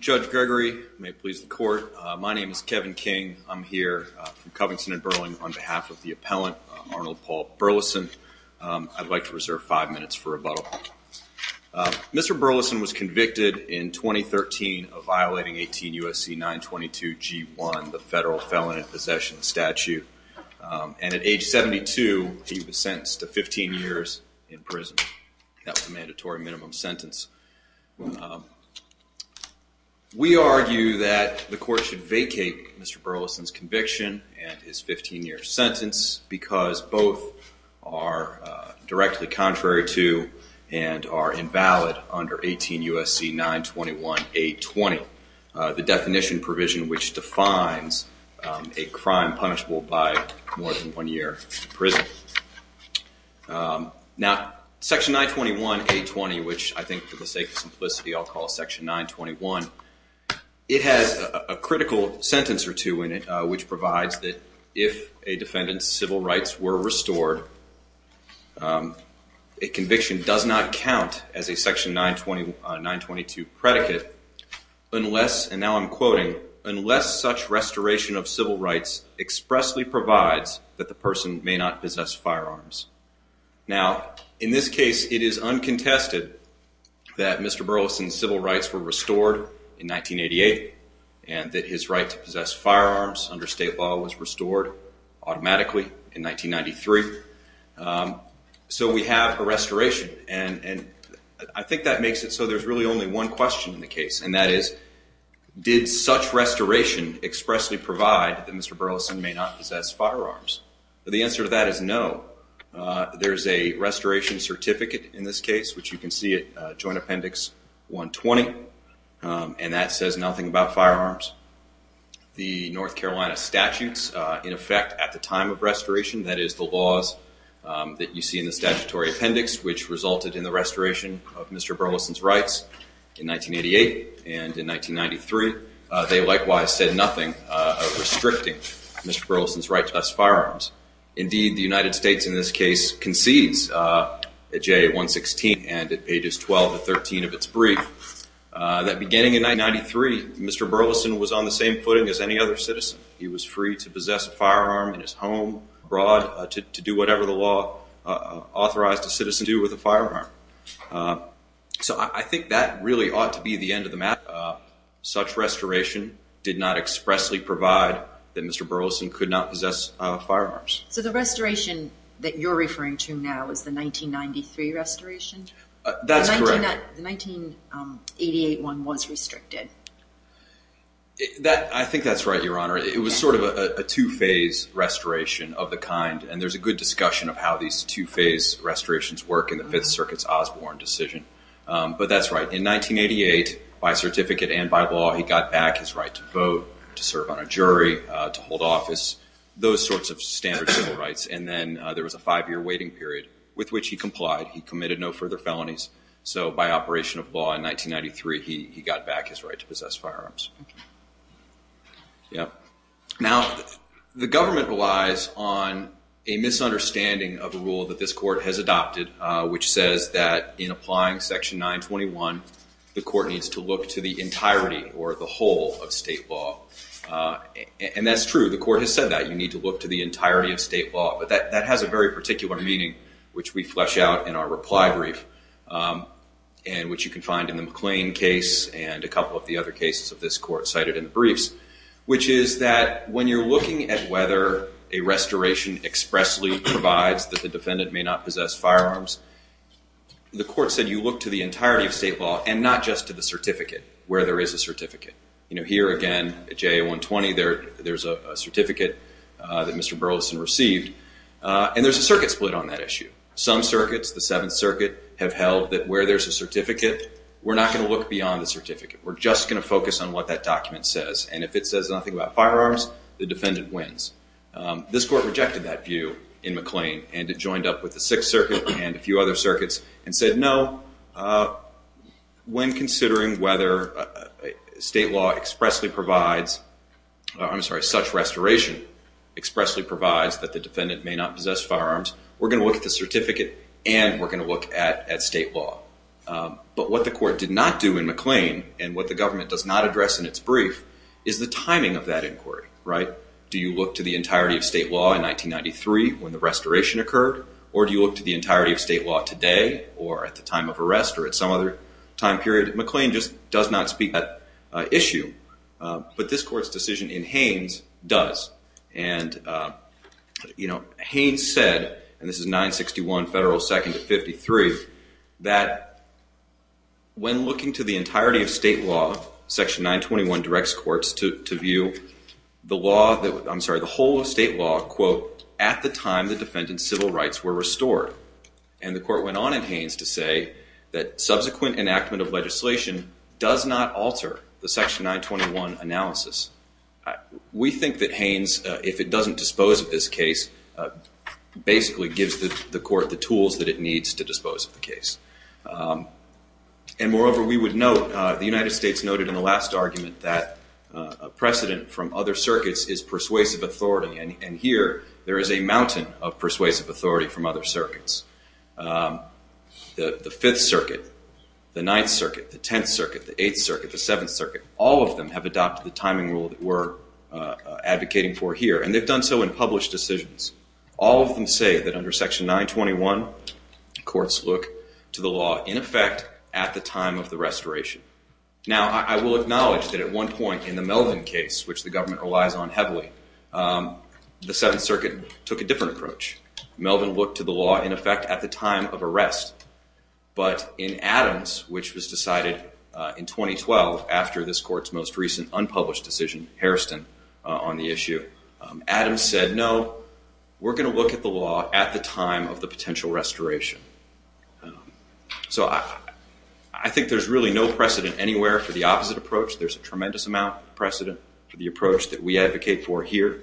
Judge Gregory, may it please the court. My name is Kevin King. I'm here from Covington and Burling on behalf of the appellant Arnold Paul Burleson. I'd like to reserve five minutes for rebuttal. Mr. Burleson was convicted in 2013 of violating 18 U.S.C. 922 G1, the federal years in prison. That was a mandatory minimum sentence. We argue that the court should vacate Mr. Burleson's conviction and his 15-year sentence because both are directly contrary to and are invalid under 18 U.S.C. 921 A20, the definition provision which defines a crime punishable by more than one year in prison. Now, Section 921 A20, which I think for the sake of simplicity I'll call Section 921, it has a critical sentence or two in it which provides that if a defendant's civil rights were restored, a conviction does not count as a Section 922 predicate unless, and now I'm quoting, unless such restoration of civil rights expressly provides that the person may not possess firearms. Now, in this case, it is uncontested that Mr. Burleson's civil rights were restored in 1988 and that his right to possess firearms under state law was restored automatically in 1993. So we have a question, did such restoration expressly provide that Mr. Burleson may not possess firearms? The answer to that is no. There's a restoration certificate in this case, which you can see at Joint Appendix 120, and that says nothing about firearms. The North Carolina statutes, in effect, at the time of restoration, that is the laws that you see in the statutory appendix, which resulted in the restoration of Mr. Burleson's rights in 1988 and in 1993, they likewise said nothing restricting Mr. Burleson's right to possess firearms. Indeed, the United States in this case concedes at J116 and at pages 12 to 13 of its brief that beginning in 1993, Mr. Burleson was on the same footing as any other citizen. He was free to possess a firearm in his home abroad, to do whatever the law authorized a citizen to do with a firearm. So I think that really ought to be the end of the matter. Such restoration did not expressly provide that Mr. Burleson could not possess firearms. So the restoration that you're referring to now is the 1993 restoration? That's correct. The 1988 one was restricted. I think that's right, Your Honor. It was sort of a two-phase restoration of the kind, and there's a good discussion of how these two-phase restorations work in the Fifth Circuit's Osborne decision. But that's right. In 1988, by certificate and by law, he got back his right to vote, to serve on a jury, to hold office, those sorts of standard civil rights. And then there was a five-year waiting period with which he complied. He committed no further felonies. So by operation of law in 1993, he got back his right to possess firearms. Now, the government relies on a misunderstanding of a rule that this court has adopted, which says that in applying Section 921, the court needs to look to the entirety or the whole of state law. And that's true. The court has to look to the entirety of state law. But that has a very particular meaning, which we flesh out in our reply brief, and which you can find in the McLean case and a couple of the other cases of this court cited in the briefs, which is that when you're looking at whether a restoration expressly provides that the defendant may not possess firearms, the court said you look to the entirety of state law and not just to the certificate, where there is a certificate. You know, here again, at JA 120, there's a certificate that Mr. Burleson received. And there's a circuit split on that issue. Some circuits, the Seventh Circuit, have held that where there's a certificate, we're not going to look beyond the certificate. We're just going to focus on what that document says. And if it says nothing about firearms, the defendant wins. This court rejected that view in McLean, and it joined up with the Sixth Circuit and a few other circuits and said, no, when considering whether state law expressly provides, I'm sorry, such restoration expressly provides that the defendant may not possess firearms, we're going to look at the certificate and we're going to look at state law. But what the court did not do in McLean, and what the government does not address in its brief, is the timing of that inquiry, right? Do you look to the entirety of state law in 1993 when the restoration occurred? Or do you look to the entirety of state law today or at the time of arrest or at some other time period? McLean just does not speak that issue. But this court's decision in Haynes does. And, you know, Haynes said, and this is 961 Federal 2nd to 53, that when looking to the entirety of state law, Section 921 directs courts to view the law, I'm sorry, the whole of state law, quote, at the time the defendant's civil rights were restored. And the court went on in Haynes to say that subsequent enactment of legislation does not alter the Section 921 analysis. We think that Haynes, if it doesn't dispose of this case, basically gives the court the tools that it needs to dispose of the case. And moreover, we would note, the United States noted in the last argument that precedent from other circuits is persuasive authority. And here, there is a mountain of persuasive authority from other circuits. The 5th Circuit, the 9th Circuit, the 10th Circuit, the 8th Circuit, the 7th Circuit, all of them have adopted the timing rule that we're advocating for here. And they've done so in published decisions. All of them say that under Section 921, courts look to the law in effect at the time of the restoration. Now, I will acknowledge that at one point in the Melvin case, which the government relies on heavily, the 7th Circuit took a different approach. Melvin looked to the law in effect at the time of arrest. But in Adams, which was decided in 2012 after this court's most recent unpublished decision, Hairston, on the issue, Adams said, no, we're going to look at the law at the time of potential restoration. So, I think there's really no precedent anywhere for the opposite approach. There's a tremendous amount of precedent for the approach that we advocate for here.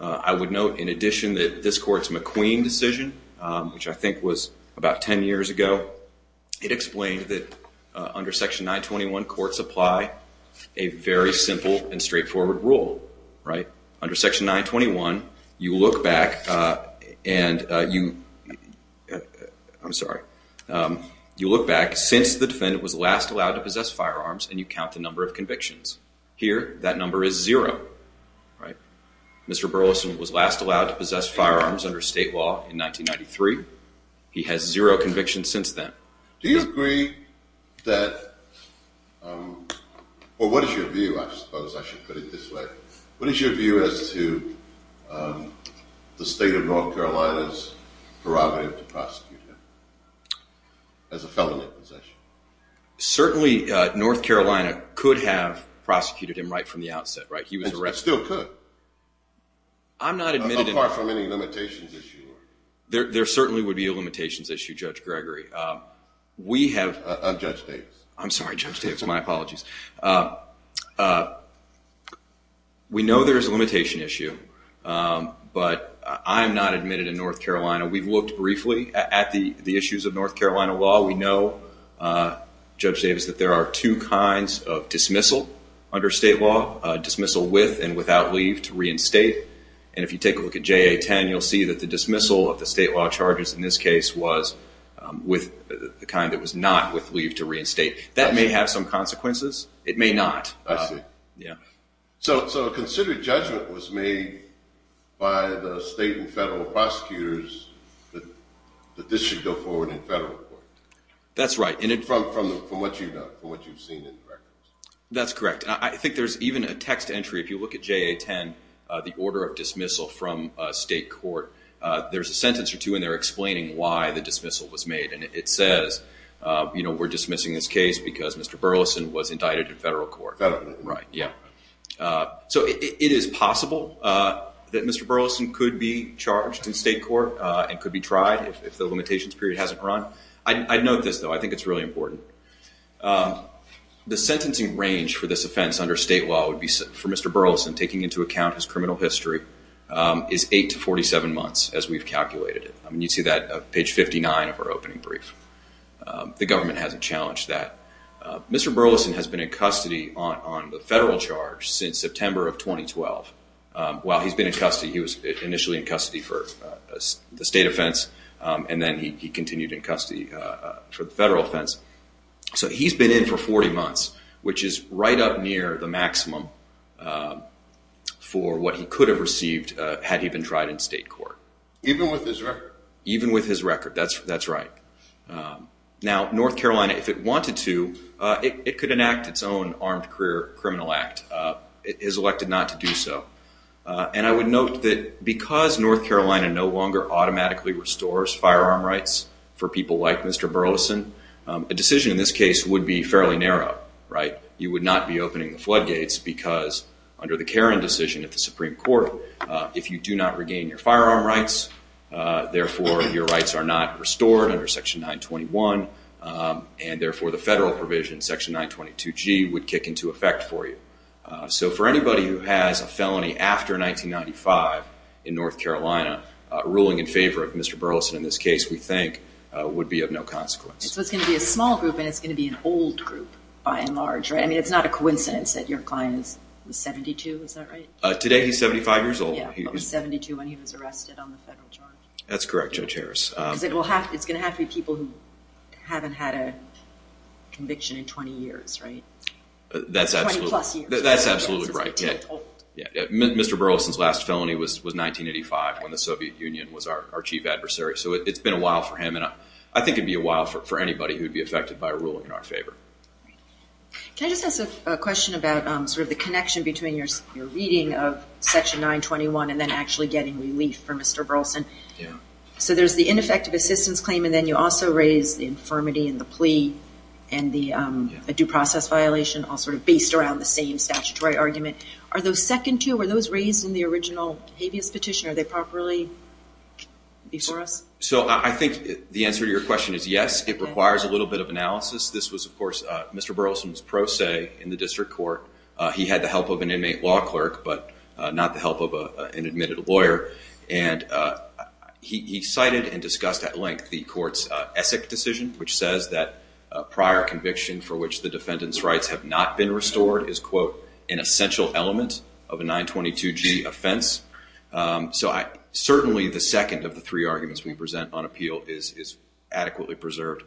I would note, in addition, that this court's McQueen decision, which I think was about 10 years ago, it explained that under Section 921, courts apply a very simple and straightforward rule, right? Under Section 921, you look back and you I'm sorry. You look back since the defendant was last allowed to possess firearms and you count the number of convictions. Here, that number is zero, right? Mr. Burleson was last allowed to possess firearms under state law in 1993. He has zero convictions since then. Do you agree that, or what is your view, I suppose I should put it this way, what is your view as to the state of North Carolina's prerogative to prosecute him as a felon in possession? Certainly, North Carolina could have prosecuted him right from the outset, right? He was arrested. They still could. I'm not admitting Apart from any limitations issue. There certainly would be a limitations issue, Judge Gregory. Of Judge Davis. I'm sorry, Judge Davis. My apologies. We know there is a limitation issue, but I'm not admitted in North Carolina. We've looked briefly at the issues of North Carolina law. We know, Judge Davis, that there are two kinds of dismissal under state law. Dismissal with and without leave to reinstate. And if you take a look at JA-10, you'll see that the dismissal of the state law charges in this case was with the kind that was not with leave to reinstate. That may have some consequences. It may not. I see. Yeah. So consider judgment was made by the state and federal prosecutors that this should go forward in federal court. That's right. From what you've seen in the records. That's correct. I think there's even a text entry. If you look at JA-10, the order of dismissal from state court, there's a sentence or two in there explaining why the dismissal was made. And it says, you know, we're dismissing this case because Mr. Burleson was indicted in federal court. Federal court. Right. Yeah. So it is possible that Mr. Burleson could be charged in state court and could be tried if the limitations period hasn't run. I'd note this, though. I think it's really important. The sentencing range for this offense under state law would be, for Mr. Burleson, taking into account his criminal history, is 8 to 47 months, as we've calculated it. You'd see that on page 59 of our opening brief. The government hasn't challenged that. Mr. Burleson has been in custody on the federal charge since September of 2012. While he's been in custody, he was initially in custody for the state offense, and then he continued in custody for the state offense. So he's been in for 40 months, which is right up near the maximum for what he could have received had he been tried in state court. Even with his record. Even with his record. That's right. Now, North Carolina, if it wanted to, it could enact its own armed criminal act. It is elected not to do so. And I would be fairly narrow, right? You would not be opening the floodgates, because under the Caron decision at the Supreme Court, if you do not regain your firearm rights, therefore your rights are not restored under Section 921, and therefore the federal provision, Section 922G, would kick into effect for you. So for anybody who has a felony after 1995 in North Carolina, ruling in favor of Mr. Burleson in this case, we think, would be of no consequence. So it's going to be a small group, and it's going to be an old group, by and large, right? I mean, it's not a coincidence that your client is 72, is that right? Today he's 75 years old. Yeah, but he was 72 when he was arrested on the federal charge. That's correct, Judge Harris. Because it's going to have to be people who haven't had a conviction in 20 years, right? That's absolutely right. 20 plus years. Mr. Burleson's last felony was 1985, when the Soviet Union was our chief adversary. So it's been a while for him, and I think it would be a while for anybody who would be affected by a ruling in our favor. Can I just ask a question about sort of the connection between your reading of Section 921 and then actually getting relief for Mr. Burleson? Yeah. So there's the ineffective assistance claim, and then you also raise the infirmity and the plea and the due process violation, all sort of based around the same statutory argument. Are those second to you? Were those raised in the original habeas petition? Are they properly before us? So I think the answer to your question is yes. It requires a little bit of analysis. This was, of course, Mr. Burleson's pro se in the district court. He had the help of an inmate law clerk, but not the help of an admitted lawyer. And he cited and discussed at length the court's Essex decision, which says that a prior conviction for which the defendant's rights have not been restored is, quote, an essential element of a 922G offense. So certainly the second of the three arguments we present on appeal is adequately preserved.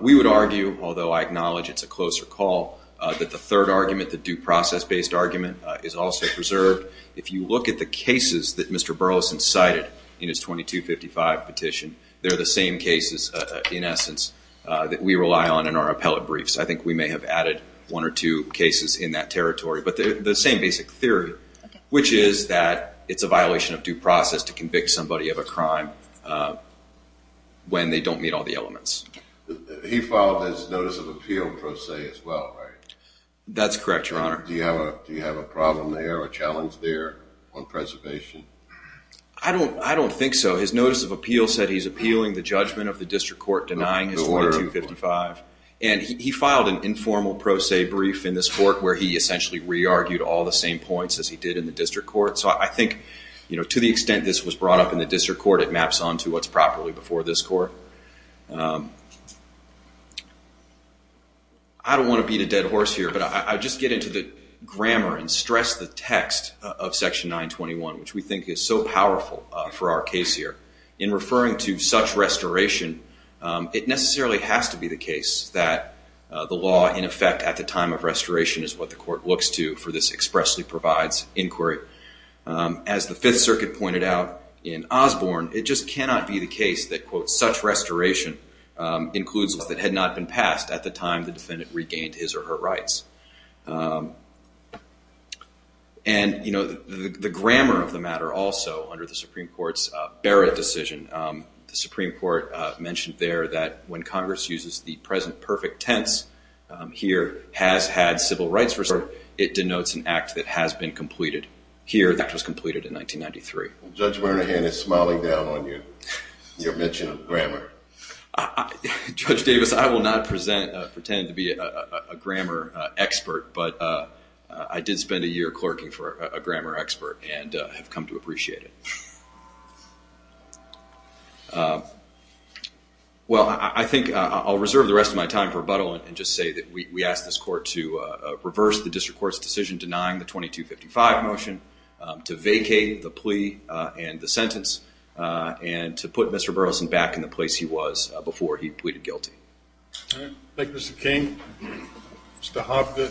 We would argue, although I acknowledge it's a closer call, that the third argument, the due process-based argument, is also preserved. If you look at the cases that Mr. Burleson cited in his 2255 petition, they're the same cases, in essence, that we rely on in our appellate briefs. I think we may have added one or two cases in that territory, but the same basic theory, which is that it's a violation of due process to convict somebody of a crime when they don't meet all the elements. He followed his notice of appeal pro se as well, right? That's correct, Your Honor. Do you have a problem there or a challenge there on preservation? I don't think so. His notice of appeal said he's appealing the judgment of the district court denying his 2255. And he filed an informal pro se brief in this court where he essentially re-argued all the same points as he did in the district court. So I think to the extent this was brought up in the district court, it maps onto what's properly before this court. I don't want to beat a dead horse here, but I'll just get into the grammar and stress the text of Section 921, which we think is so powerful for our case here. In referring to such restoration, it necessarily has to be the case that the law, in effect, at the time of restoration is what the court looks to for this expressly provides inquiry. As the Fifth Circuit pointed out in Osborne, it just cannot be the case that, quote, such restoration includes laws that had not been passed at the time the defendant regained his or her rights. And, you know, the grammar of the matter also under the Supreme Court's Barrett decision, the Supreme Court mentioned there that when Congress uses the present perfect tense here, has had civil rights restored, it denotes an act that has been completed. Here, that was completed in 1993. Judge Bernahan is smiling down on you, your mention of grammar. Judge Davis, I will not pretend to be a grammar expert, but I did spend a year clerking for a grammar expert and have come to appreciate it. Well, I think I'll reserve the rest of my time for rebuttal and just say that we ask this court to reverse the district court's decision denying the 2255 motion, to vacate the plea and the sentence, and to put Mr. Burleson back in the place he was before he pleaded guilty. Thank you, Mr. King. Mr. Hobbit.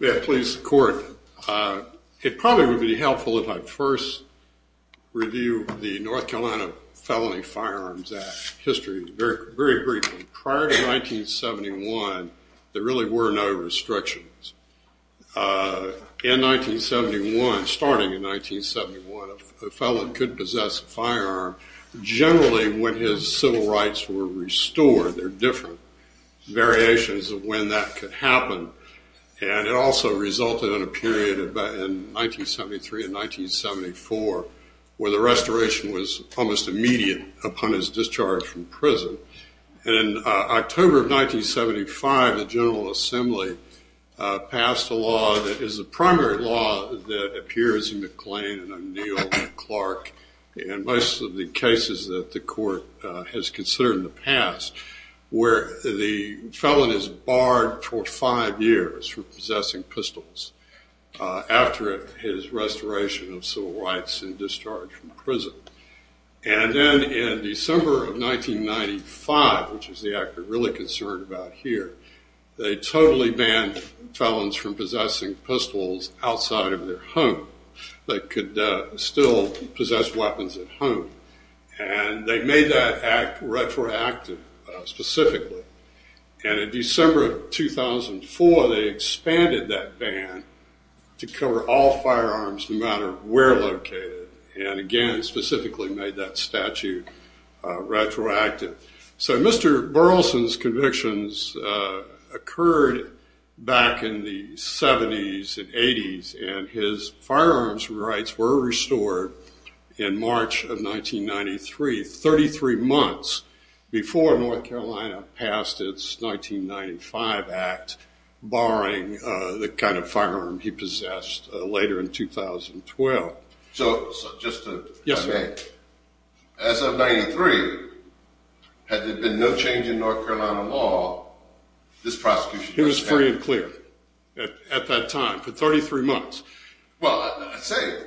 Yeah, please, court. It probably would be helpful if I first review the North Carolina Felony Firearms Act history very briefly. Prior to 1971, there really were no restrictions. In 1971, starting in 1971, a felon could possess a firearm. Generally, when his civil rights were restored, there are different variations of when that could happen. And it also resulted in a period in 1973 and 1974 where the restoration was almost immediate upon his discharge from prison. And in October of 1975, the General Assembly passed a law that is the primary law that appears in McLean and O'Neill and Clark and most of the cases that the court has considered in the past where the felon is barred for five years for possessing pistols after his restoration of civil rights and discharge from prison. And then in December of 1995, which is the act we're really concerned about here, they totally banned felons from possessing pistols outside of their home. They could still possess weapons at home. And they made that act retroactive specifically. And in December of 2004, they expanded that ban to cover all firearms no matter where located. And again, specifically made that statute retroactive. So Mr. Burleson's convictions occurred back in the 70s and 80s, and his firearms rights were restored in March of 1993, 33 months before North Carolina passed its 1995 act barring the kind of firearm he possessed later in 2012. So just to... Yes, sir. As of 93, had there been no change in North Carolina law, this prosecution... It was free and clear at that time for 33 months. Well, I say,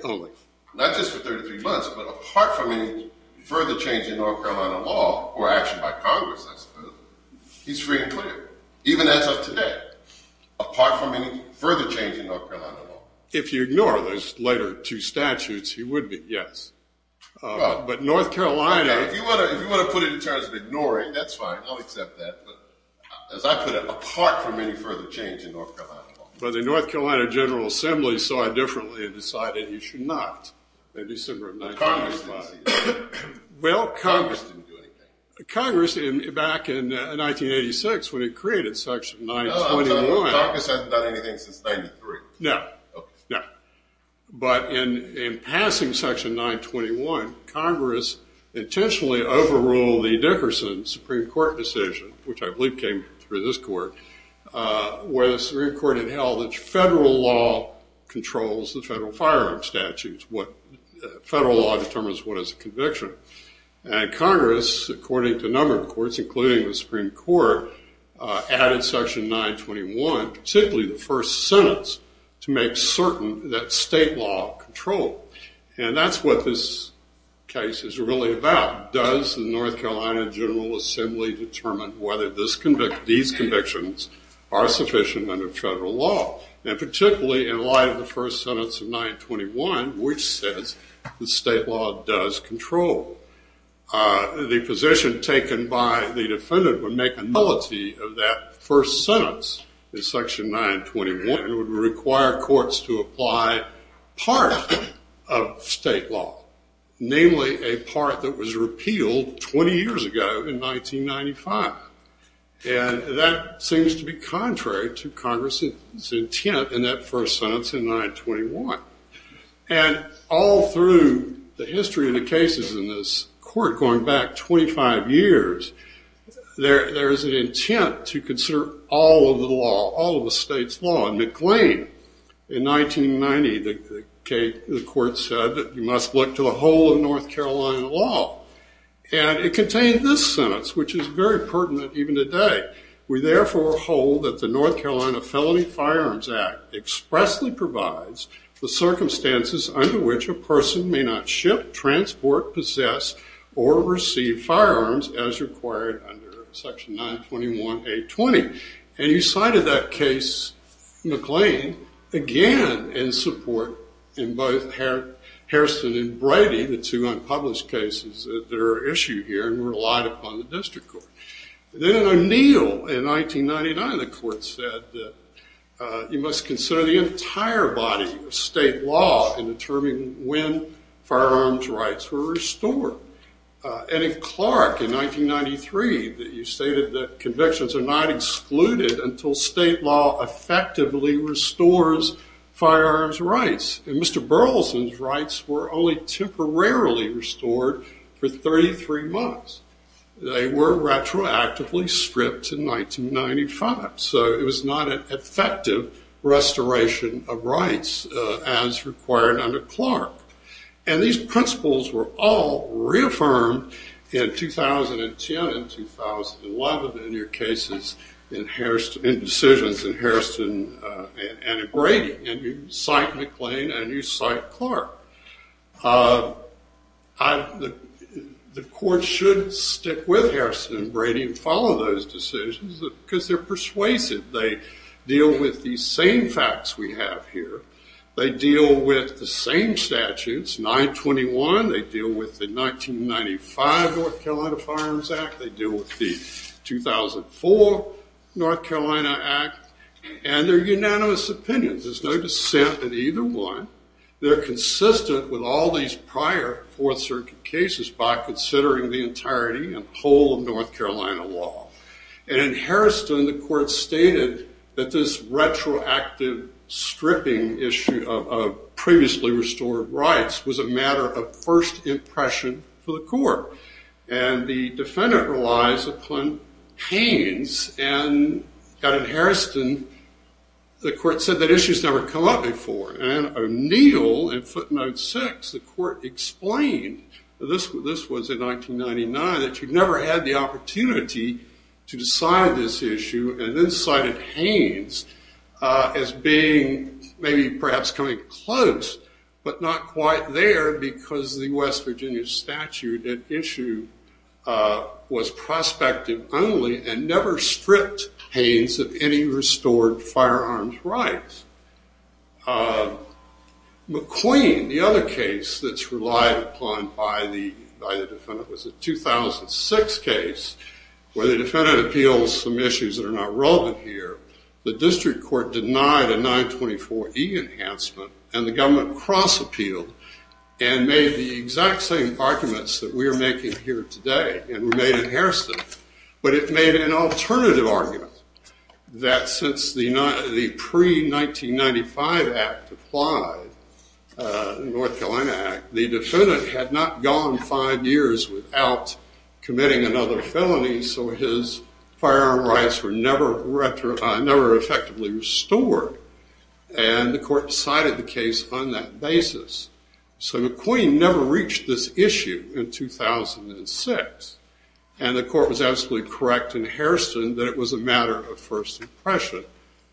not just for 33 months, but apart from any further change in North Carolina law or action by Congress, he's free and clear, even as of today, apart from any further change in North Carolina law. If you ignore those later two statutes, he would be, yes. But North Carolina... If you want to put it in terms of ignoring, that's fine. I'll accept that. But as I put it, apart from any further change in North Carolina law. But the North Carolina General Assembly saw it differently and decided you should not in December of 1995. Congress didn't do anything. Congress, back in 1986 when it created Section 921... Congress hasn't done anything since 93. No, no. But in passing Section 921, Congress intentionally overruled the Dickerson Supreme Court decision, which I believe came through this court, where the Supreme Court had held that federal law controls the federal firearm statutes. Federal law determines what is a conviction. And Congress, according to a number of courts, including the Supreme Court, added Section 921, particularly the first sentence, to make certain that state law controlled. And that's what this case is really about. How does the North Carolina General Assembly determine whether these convictions are sufficient under federal law? And particularly in light of the first sentence of 921, which says that state law does control. The position taken by the defendant would make a nullity of that first sentence in Section 921. It would require courts to apply part of state law, namely a part that was repealed 20 years ago in 1995. And that seems to be contrary to Congress's intent in that first sentence in 921. And all through the history of the cases in this court going back 25 years, there is an intent to consider all of the law, all of the state's law. And McLean, in 1990, the court said that you must look to the whole of North Carolina law. And it contained this sentence, which is very pertinent even today. We therefore hold that the North Carolina Felony Firearms Act expressly provides the circumstances under which a person may not ship, transport, possess, or receive firearms as required under Section 921-820. And you cited that case, McLean, again in support in both Hairston and Brady, the two unpublished cases that are issued here and relied upon the district court. Then in O'Neill in 1999, the court said that you must consider the entire body of state law in determining when firearms rights were restored. And in Clark in 1993, you stated that convictions are not excluded until state law effectively restores firearms rights. And Mr. Burleson's rights were only temporarily restored for 33 months. They were retroactively stripped in 1995. So it was not an effective restoration of rights as required under Clark. And these principles were all reaffirmed in 2010 and 2011 in your cases in decisions in Hairston and in Brady. And you cite McLean and you cite Clark. The court should stick with Hairston and Brady and follow those decisions because they're persuasive. They deal with these same facts we have here. They deal with the same statutes, 921. They deal with the 1995 North Carolina Firearms Act. They deal with the 2004 North Carolina Act. And they're unanimous opinions. There's no dissent in either one. They're consistent with all these prior Fourth Circuit cases by considering the entirety and whole of North Carolina law. And in Hairston, the court stated that this retroactive stripping issue of previously restored rights was a matter of first impression for the court. And the defendant relies upon Haynes. And in Hairston, the court said that issue's never come up before. And O'Neill in footnote six, the court explained, this was in 1999, that you never had the opportunity to decide this issue. And then cited Haynes as being, maybe perhaps coming close, but not quite there because the West Virginia statute, that issue was prospective only and never stripped Haynes of any restored firearms rights. McQueen, the other case that's relied upon by the defendant, was a 2006 case where the defendant appeals some issues that are not relevant here. The district court denied a 924E enhancement. And the government cross-appealed and made the exact same arguments that we are making here today and made in Hairston. But it made an alternative argument that since the pre-1995 Act applied, the North Carolina Act, the defendant had not gone five years without committing another felony, so his firearm rights were never effectively restored. And the court cited the case on that basis. So McQueen never reached this issue in 2006. And the court was absolutely correct in Hairston that it was a matter of first impression.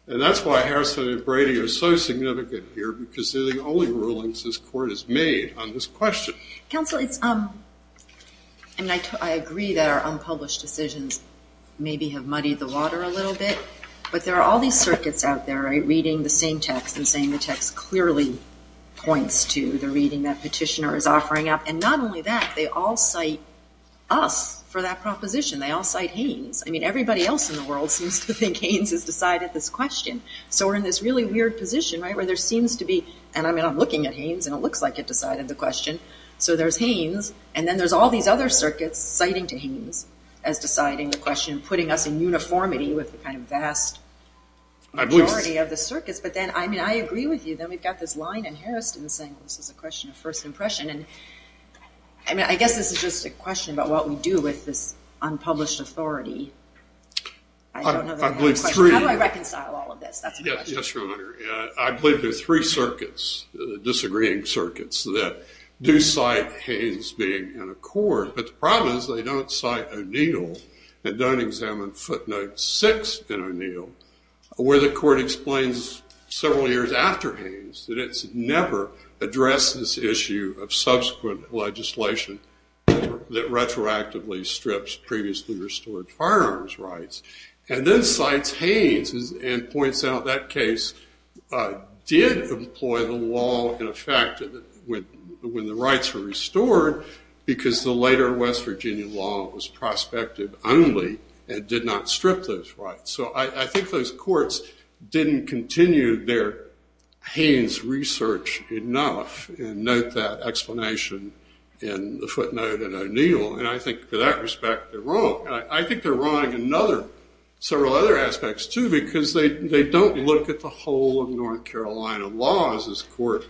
And that's why Hairston and Brady are so significant here, because they're the only rulings this court has made on this question. Counsel, I agree that our unpublished decisions maybe have muddied the water a little bit. But there are all these circuits out there, right, reading the same text and saying the text clearly points to the reading that petitioner is offering up. And not only that, they all cite us for that proposition. They all cite Haynes. I mean, everybody else in the world seems to think Haynes has decided this question. So we're in this really weird position, right, where there seems to be, and I mean, I'm looking at Haynes, and it looks like it decided the question. So there's Haynes, and then there's all these other circuits citing to Haynes as deciding the question, putting us in uniformity with the kind of vast majority of the circuits. But then, I mean, I agree with you that we've got this line in Hairston saying this is a question of first impression. And, I mean, I guess this is just a question about what we do with this unpublished authority. I don't know that that's a question. How do I reconcile all of this? That's my question. Yes, Your Honor. I believe there are three circuits, disagreeing circuits, that do cite Haynes being in a court. But the problem is they don't cite O'Neill and don't examine footnote six in O'Neill, where the court explains several years after Haynes that it's never addressed this issue of subsequent legislation that retroactively strips previously restored firearms rights. And then cites Haynes and points out that case did employ the law in effect when the rights were restored, because the later West Virginia law was prospective only and did not strip those rights. So I think those courts didn't continue their Haynes research enough and note that explanation in the footnote in O'Neill. And I think, for that respect, they're wrong. I think they're wrong in several other aspects, too, because they don't look at the whole of North Carolina laws as court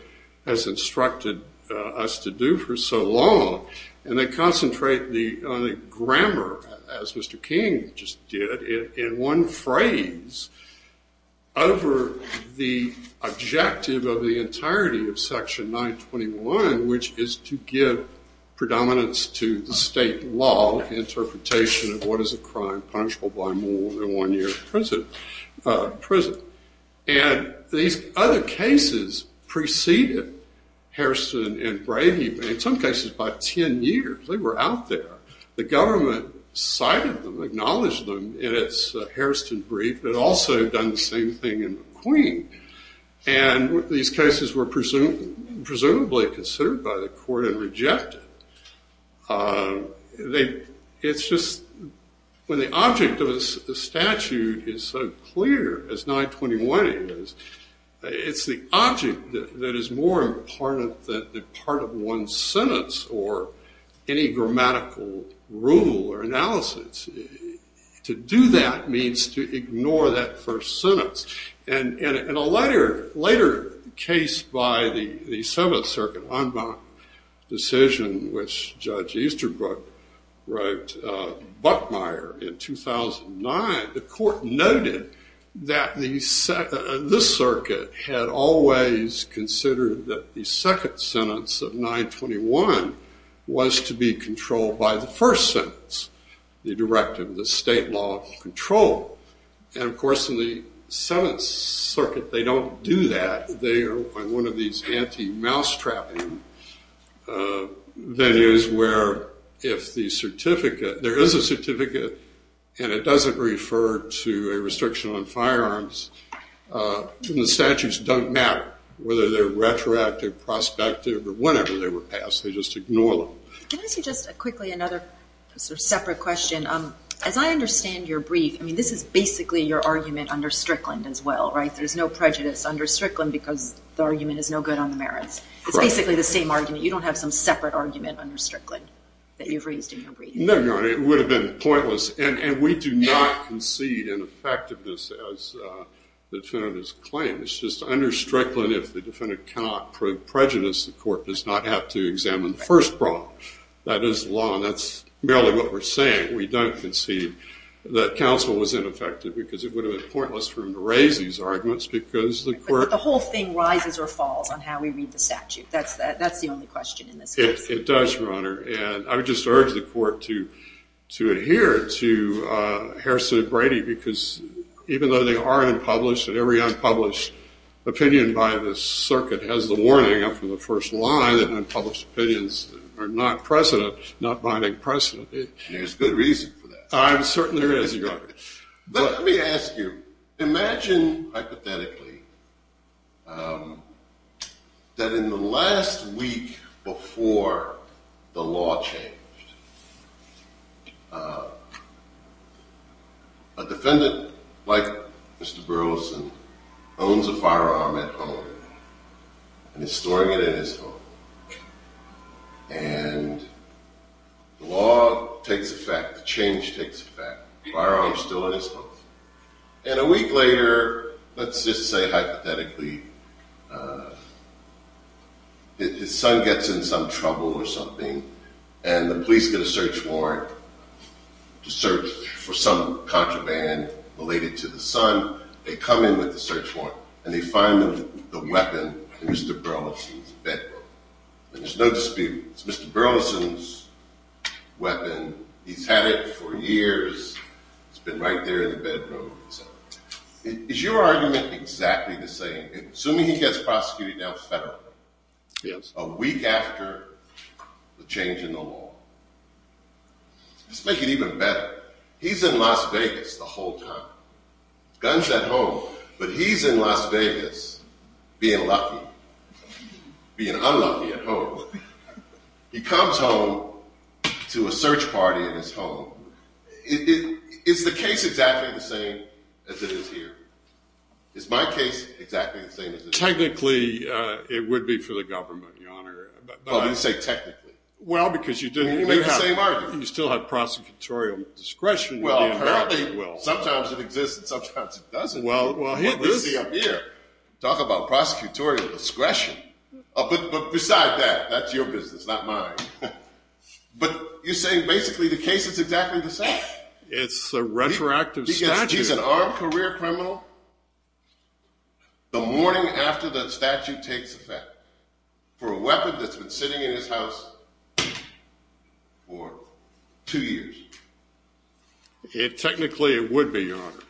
has instructed us to do for so long. And they concentrate the grammar, as Mr. King just did, in one phrase over the objective of the entirety of Section 921, which is to give predominance to the state law interpretation of what is a crime punishable by more than one year in prison. And these other cases preceded Hairston and Brady, in some cases by 10 years. They were out there. The government cited them, acknowledged them in its Hairston brief, but also done the same thing in McQueen. And these cases were presumably considered by the court and rejected. It's just when the object of a statute is so clear as 921 is, it's the object that is more important than part of one's sentence or any grammatical rule or analysis. To do that means to ignore that first sentence. And in a later case by the 7th Circuit, Anbach decision, which Judge Easterbrook wrote Buckmeyer in 2009, the court noted that this circuit had always considered that the second sentence of 921 was to be controlled by the first sentence, the directive, the state law of control. And, of course, in the 7th Circuit, they don't do that. They are one of these anti-mouse trapping venues where if the certificate, there is a certificate, and it doesn't refer to a restriction on firearms, then the statutes don't matter whether they're retroactive, prospective, or whenever they were passed. They just ignore them. Can I ask you just quickly another sort of separate question? As I understand your brief, I mean, this is basically your argument under Strickland as well, right? There's no prejudice under Strickland because the argument is no good on the merits. It's basically the same argument. You don't have some separate argument under Strickland that you've raised in your brief? No, Your Honor. It would have been pointless. And we do not concede in effectiveness as the defendants claim. It's just under Strickland if the defendant cannot prove prejudice, the court does not have to examine the first problem. That is the law. And that's merely what we're saying. We don't concede that counsel was ineffective because it would have been pointless for him to raise these arguments because the court But the whole thing rises or falls on how we read the statute. That's the only question in this case. It does, Your Honor. And I would just urge the court to adhere to Harrison and Brady because even though they are unpublished, every unpublished opinion by this circuit has the warning up from the first line that unpublished opinions are not binding precedent. There's good reason for that. There certainly is, Your Honor. Let me ask you. Imagine hypothetically that in the last week before the law changed, a defendant like Mr. Burleson owns a firearm at home and is storing it in his home. And the law takes effect. Change takes effect. The firearm is still in his home. And a week later, let's just say hypothetically his son gets in some trouble or something and the police get a search warrant to search for some contraband related to the son. They come in with the search warrant and they find the weapon in Mr. Burleson's bed. And there's no dispute. It's Mr. Burleson's weapon. He's had it for years. It's been right there in the bedroom. Is your argument exactly the same? Assuming he gets prosecuted now federally a week after the change in the law. Let's make it even better. He's in Las Vegas the whole time. Gun's at home. But he's in Las Vegas being lucky, being unlucky at home. He comes home to a search party in his home. Is the case exactly the same as it is here? Is my case exactly the same as it is here? Technically, it would be for the government, Your Honor. Well, you didn't say technically. Well, because you didn't. You made the same argument. You still have prosecutorial discretion. Well, apparently. Sometimes it exists and sometimes it doesn't. Well, here it is. Talk about prosecutorial discretion. But beside that, that's your business, not mine. But you're saying basically the case is exactly the same. It's a retroactive statute. He's an armed career criminal. The morning after the statute takes effect. For a weapon that's been sitting in his house for two years. Technically, it would be, Your Honor.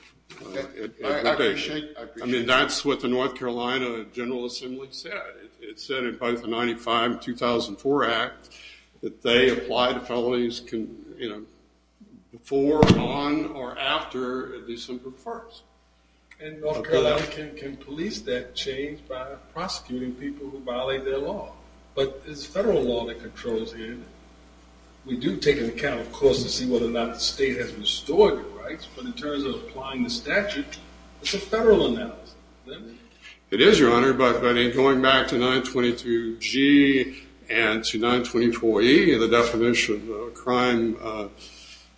I appreciate it. I mean, that's what the North Carolina General Assembly said. It said in both the 95-2004 Act that they apply the felonies before, upon, or after a decent performance. And North Carolina can police that change by prosecuting people who violate their law. But it's federal law that controls it. We do take into account, of course, to see whether or not the state has restored the rights. But in terms of applying the statute, it's a federal analysis. It is, Your Honor. But going back to 922G and to 924E, the definition of a crime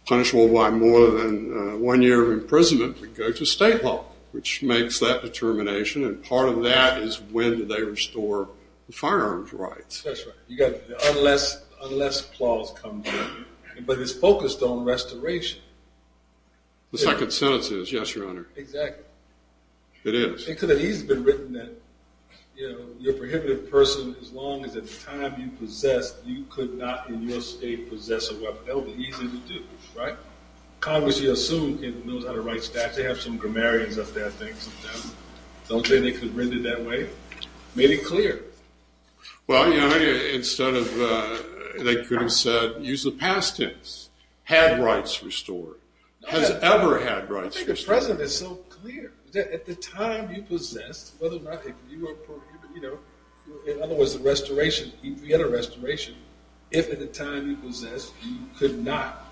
punishable by more than one year of imprisonment, we go to state law, which makes that determination. And part of that is when did they restore the firearms rights. That's right. Unless clause comes in. But it's focused on restoration. The second sentence is, yes, Your Honor. Exactly. It is. Because it has been written that, you know, you're a prohibited person as long as at the time you possessed, you could not in your state possess a weapon. That would be easy to do, right? Congress, you assume, knows how to write statutes. They have some grammarians up there, I think, sometimes. Don't say they could have written it that way. Made it clear. Well, Your Honor, instead of they could have said, use the past tense, had rights restored, has ever had rights restored. I think the President is so clear that at the time you possessed, whether or not you were prohibited, you know, in other words, the restoration, if you had a restoration, if at the time you possessed you could not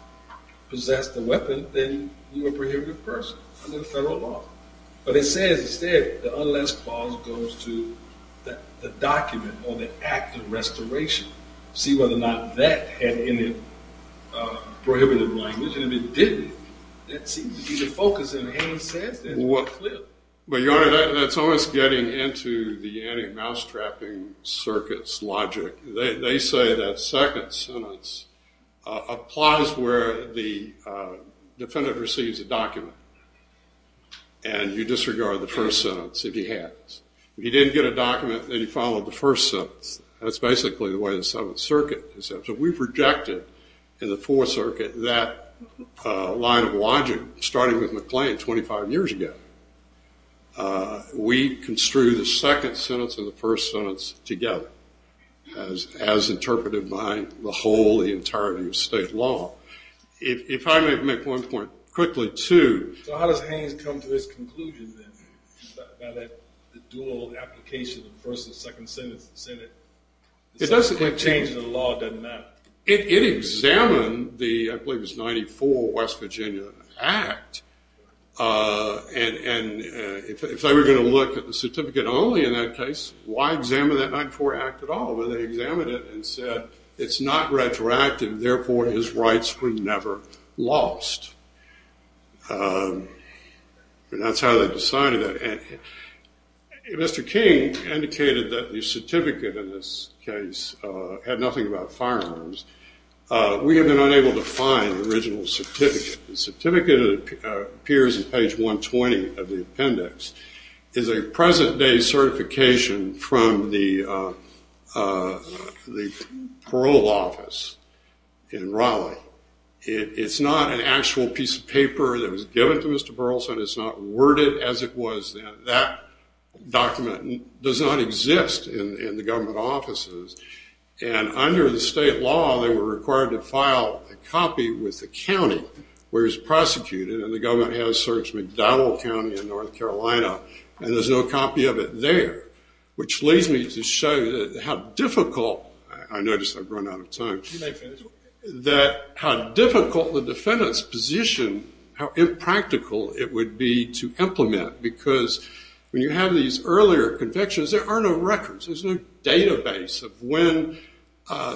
possess the weapon, then you were a prohibited person under the federal law. But it says, instead, the unless clause goes to the document or the act of restoration. See whether or not that had any prohibitive language. And if it didn't, that seems to be the focus in Haynes' sentence. Well, Your Honor, that's almost getting into the anti-mousetrapping circuit's logic. They say that second sentence applies where the defendant receives a document, and you disregard the first sentence if he has. If he didn't get a document and he followed the first sentence, that's basically the way the Seventh Circuit is. So we've rejected in the Fourth Circuit that line of logic, starting with McLean 25 years ago. We construe the second sentence and the first sentence together, as interpreted by the whole, the entirety of state law. If I may make one point quickly, too. So how does Haynes come to his conclusion, then, about the dual application of the first and second sentence in the Senate? It doesn't have to change the law. It doesn't matter. It examined the, I believe it was, 94 West Virginia Act, and if they were going to look at the certificate only in that case, why examine that 94 Act at all? Well, they examined it and said it's not retroactive, and therefore his rights were never lost. That's how they decided that. Mr. King indicated that the certificate in this case had nothing about firearms. We have been unable to find the original certificate. The certificate appears on page 120 of the appendix. It's a present-day certification from the parole office in Raleigh. It's not an actual piece of paper that was given to Mr. Burleson. It's not worded as it was then. That document does not exist in the government offices, and under the state law they were required to file a copy with the county where he was prosecuted, and the government has searched McDonald County in North Carolina, and there's no copy of it there, which leads me to show how difficult the defendant's position, how impractical it would be to implement, because when you have these earlier convictions, there are no records. There's no database of when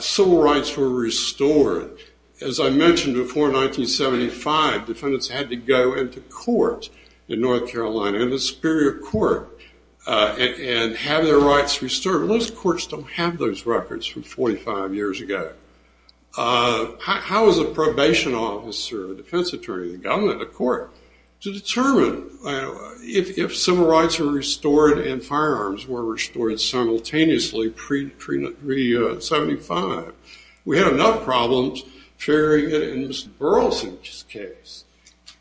civil rights were restored. As I mentioned before, in 1975, defendants had to go into court in North Carolina, into superior court, and have their rights restored. Most courts don't have those records from 45 years ago. How is a probation officer, a defense attorney, the government, a court, to determine if civil rights were restored and firearms were restored simultaneously pre-'75? We had enough problems figuring it in Mr. Burleson's case,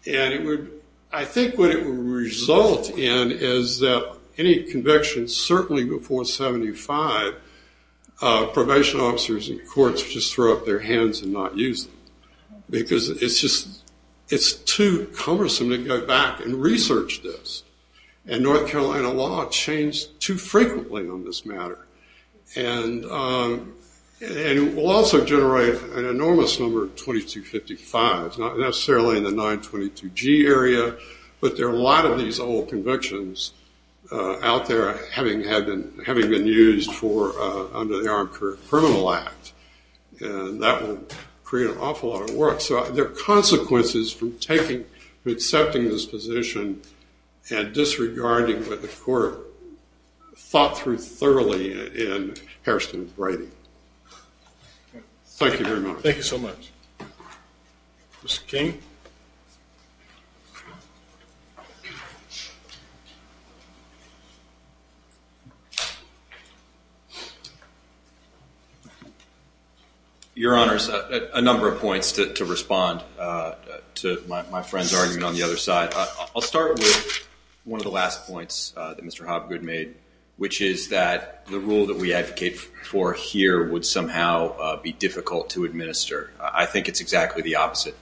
and I think what it would result in is that any conviction, certainly before 75, probation officers and courts would just throw up their hands and not use them, because it's too cumbersome to go back and research this, and North Carolina law changed too frequently on this matter, and it will also generate an enormous number of 2255s, not necessarily in the 922G area, but there are a lot of these old convictions out there having been used under the Armed Career Criminal Act, and that will create an awful lot of work. So there are consequences from accepting this position and disregarding what the court thought through thoroughly in Hairston's writing. Thank you very much. Thank you so much. Mr. King? Your Honors, a number of points to respond to my friend's argument on the other side. I'll start with one of the last points that Mr. Hobgood made, which is that the rule that we advocate for here would somehow be difficult to administer. I think it's exactly the opposite.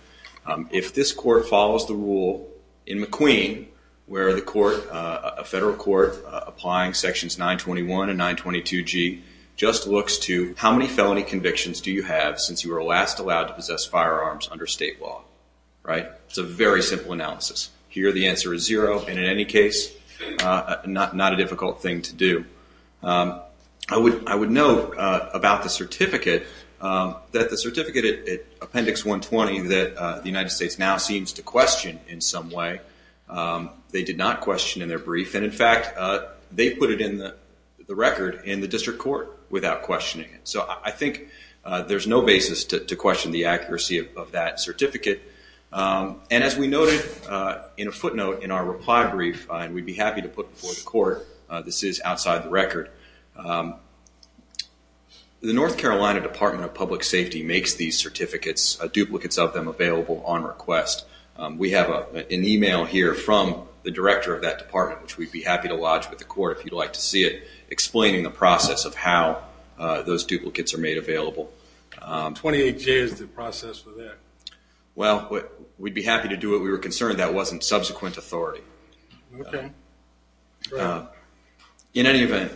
If this court follows the rule in McQueen, where a federal court applying sections 921 and 922G just looks to how many felony convictions do you have since you were last allowed to possess firearms under state law, right? It's a very simple analysis. Here the answer is zero, and in any case, not a difficult thing to do. I would note about the certificate, that the certificate at Appendix 120 that the United States now seems to question in some way, they did not question in their brief, and in fact they put it in the record in the district court without questioning it. So I think there's no basis to question the accuracy of that certificate. And as we noted in a footnote in our reply brief, and we'd be happy to put before the court, this is outside the record, the North Carolina Department of Public Safety makes these certificates, duplicates of them, available on request. We have an email here from the director of that department, which we'd be happy to lodge with the court if you'd like to see it, the process of how those duplicates are made available. 28J is the process for that. Well, we'd be happy to do it. We were concerned that wasn't subsequent authority. Okay. In any event,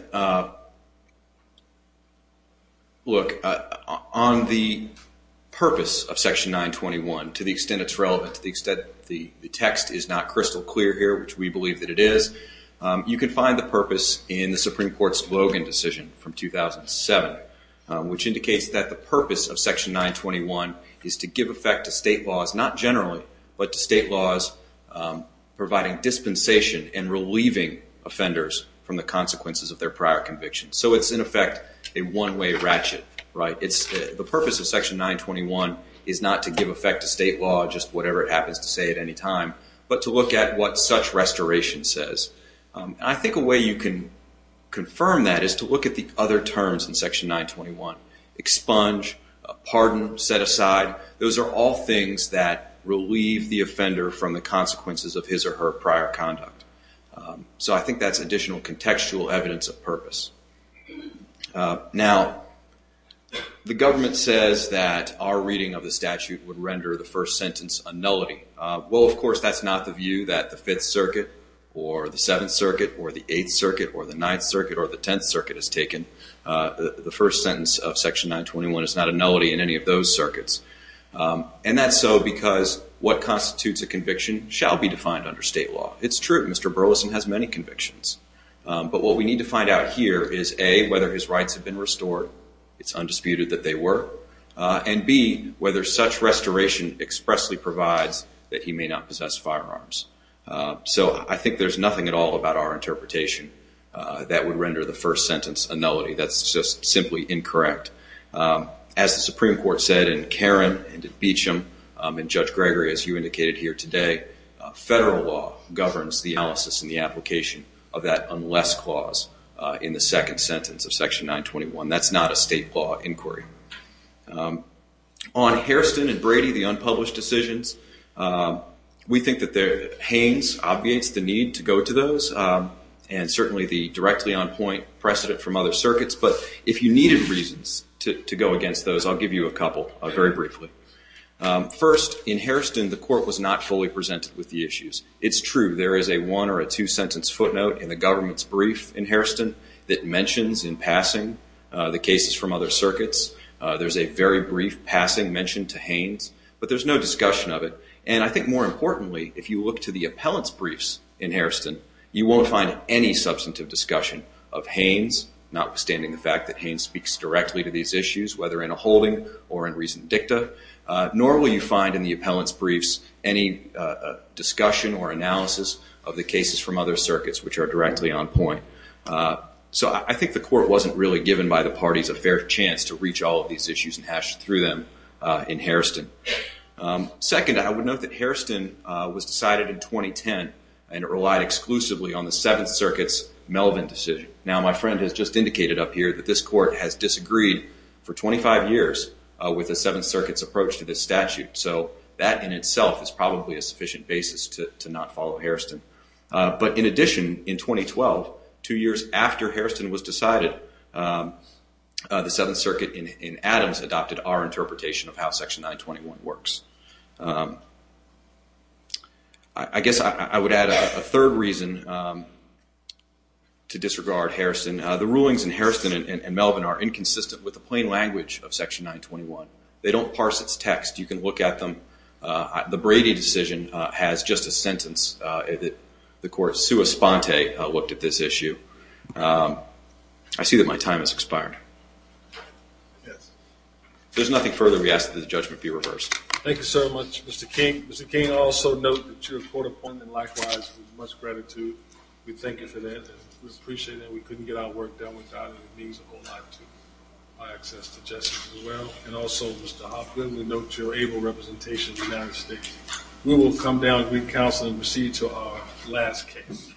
look, on the purpose of Section 921, to the extent it's relevant, to the extent the text is not crystal clear here, which we believe that it is, you can find the purpose in the Supreme Court's Logan decision from 2007, which indicates that the purpose of Section 921 is to give effect to state laws, not generally, but to state laws providing dispensation and relieving offenders from the consequences of their prior convictions. So it's, in effect, a one-way ratchet. The purpose of Section 921 is not to give effect to state law, just whatever it happens to say at any time, but to look at what such restoration says. I think a way you can confirm that is to look at the other terms in Section 921, expunge, pardon, set aside. Those are all things that relieve the offender from the consequences of his or her prior conduct. So I think that's additional contextual evidence of purpose. Now, the government says that our reading of the statute would render the first sentence a nullity. Well, of course, that's not the view that the Fifth Circuit or the Seventh Circuit or the Eighth Circuit or the Ninth Circuit or the Tenth Circuit has taken. The first sentence of Section 921 is not a nullity in any of those circuits. And that's so because what constitutes a conviction shall be defined under state law. It's true, Mr. Burleson has many convictions. But what we need to find out here is, A, whether his rights have been restored. It's undisputed that they were. And, B, whether such restoration expressly provides that he may not possess firearms. So I think there's nothing at all about our interpretation that would render the first sentence a nullity. That's just simply incorrect. As the Supreme Court said in Caron and in Beecham and Judge Gregory, as you indicated here today, federal law governs the analysis and the application of that unless clause in the second sentence of Section 921. That's not a state law inquiry. On Hairston and Brady, the unpublished decisions, we think that Haynes obviates the need to go to those and certainly the directly on point precedent from other circuits. But if you needed reasons to go against those, I'll give you a couple very briefly. First, in Hairston, the court was not fully presented with the issues. It's true, there is a one or a two-sentence footnote in the government's brief in the cases from other circuits. There's a very brief passing mention to Haynes, but there's no discussion of it. And I think more importantly, if you look to the appellant's briefs in Hairston, you won't find any substantive discussion of Haynes, notwithstanding the fact that Haynes speaks directly to these issues, whether in a holding or in recent dicta. Nor will you find in the appellant's briefs any discussion or analysis of the cases from other circuits, which are directly on point. So I think the court wasn't really given by the parties a fair chance to reach all of these issues and hash through them in Hairston. Second, I would note that Hairston was decided in 2010, and it relied exclusively on the Seventh Circuit's Melvin decision. Now, my friend has just indicated up here that this court has disagreed for 25 years with the Seventh Circuit's approach to this statute. So that in itself is probably a sufficient basis to not follow Hairston. But in addition, in 2012, two years after Hairston was decided, the Seventh Circuit in Adams adopted our interpretation of how Section 921 works. I guess I would add a third reason to disregard Hairston. The rulings in Hairston and Melvin are inconsistent with the plain language of Section 921. They don't parse its text. You can look at them. The Brady decision has just a sentence that the court, sua sponte, looked at this issue. I see that my time has expired. Yes. If there's nothing further, we ask that the judgment be reversed. Thank you so much, Mr. King. Mr. King, I'll also note that your court appointment, likewise, was much gratitude. We thank you for that. We appreciate that. We couldn't get our work done without it. It means a whole lot to my access to justice as well. And also, Mr. Hoffman, we note your able representation in the United States. We will come down with counsel and proceed to our last case.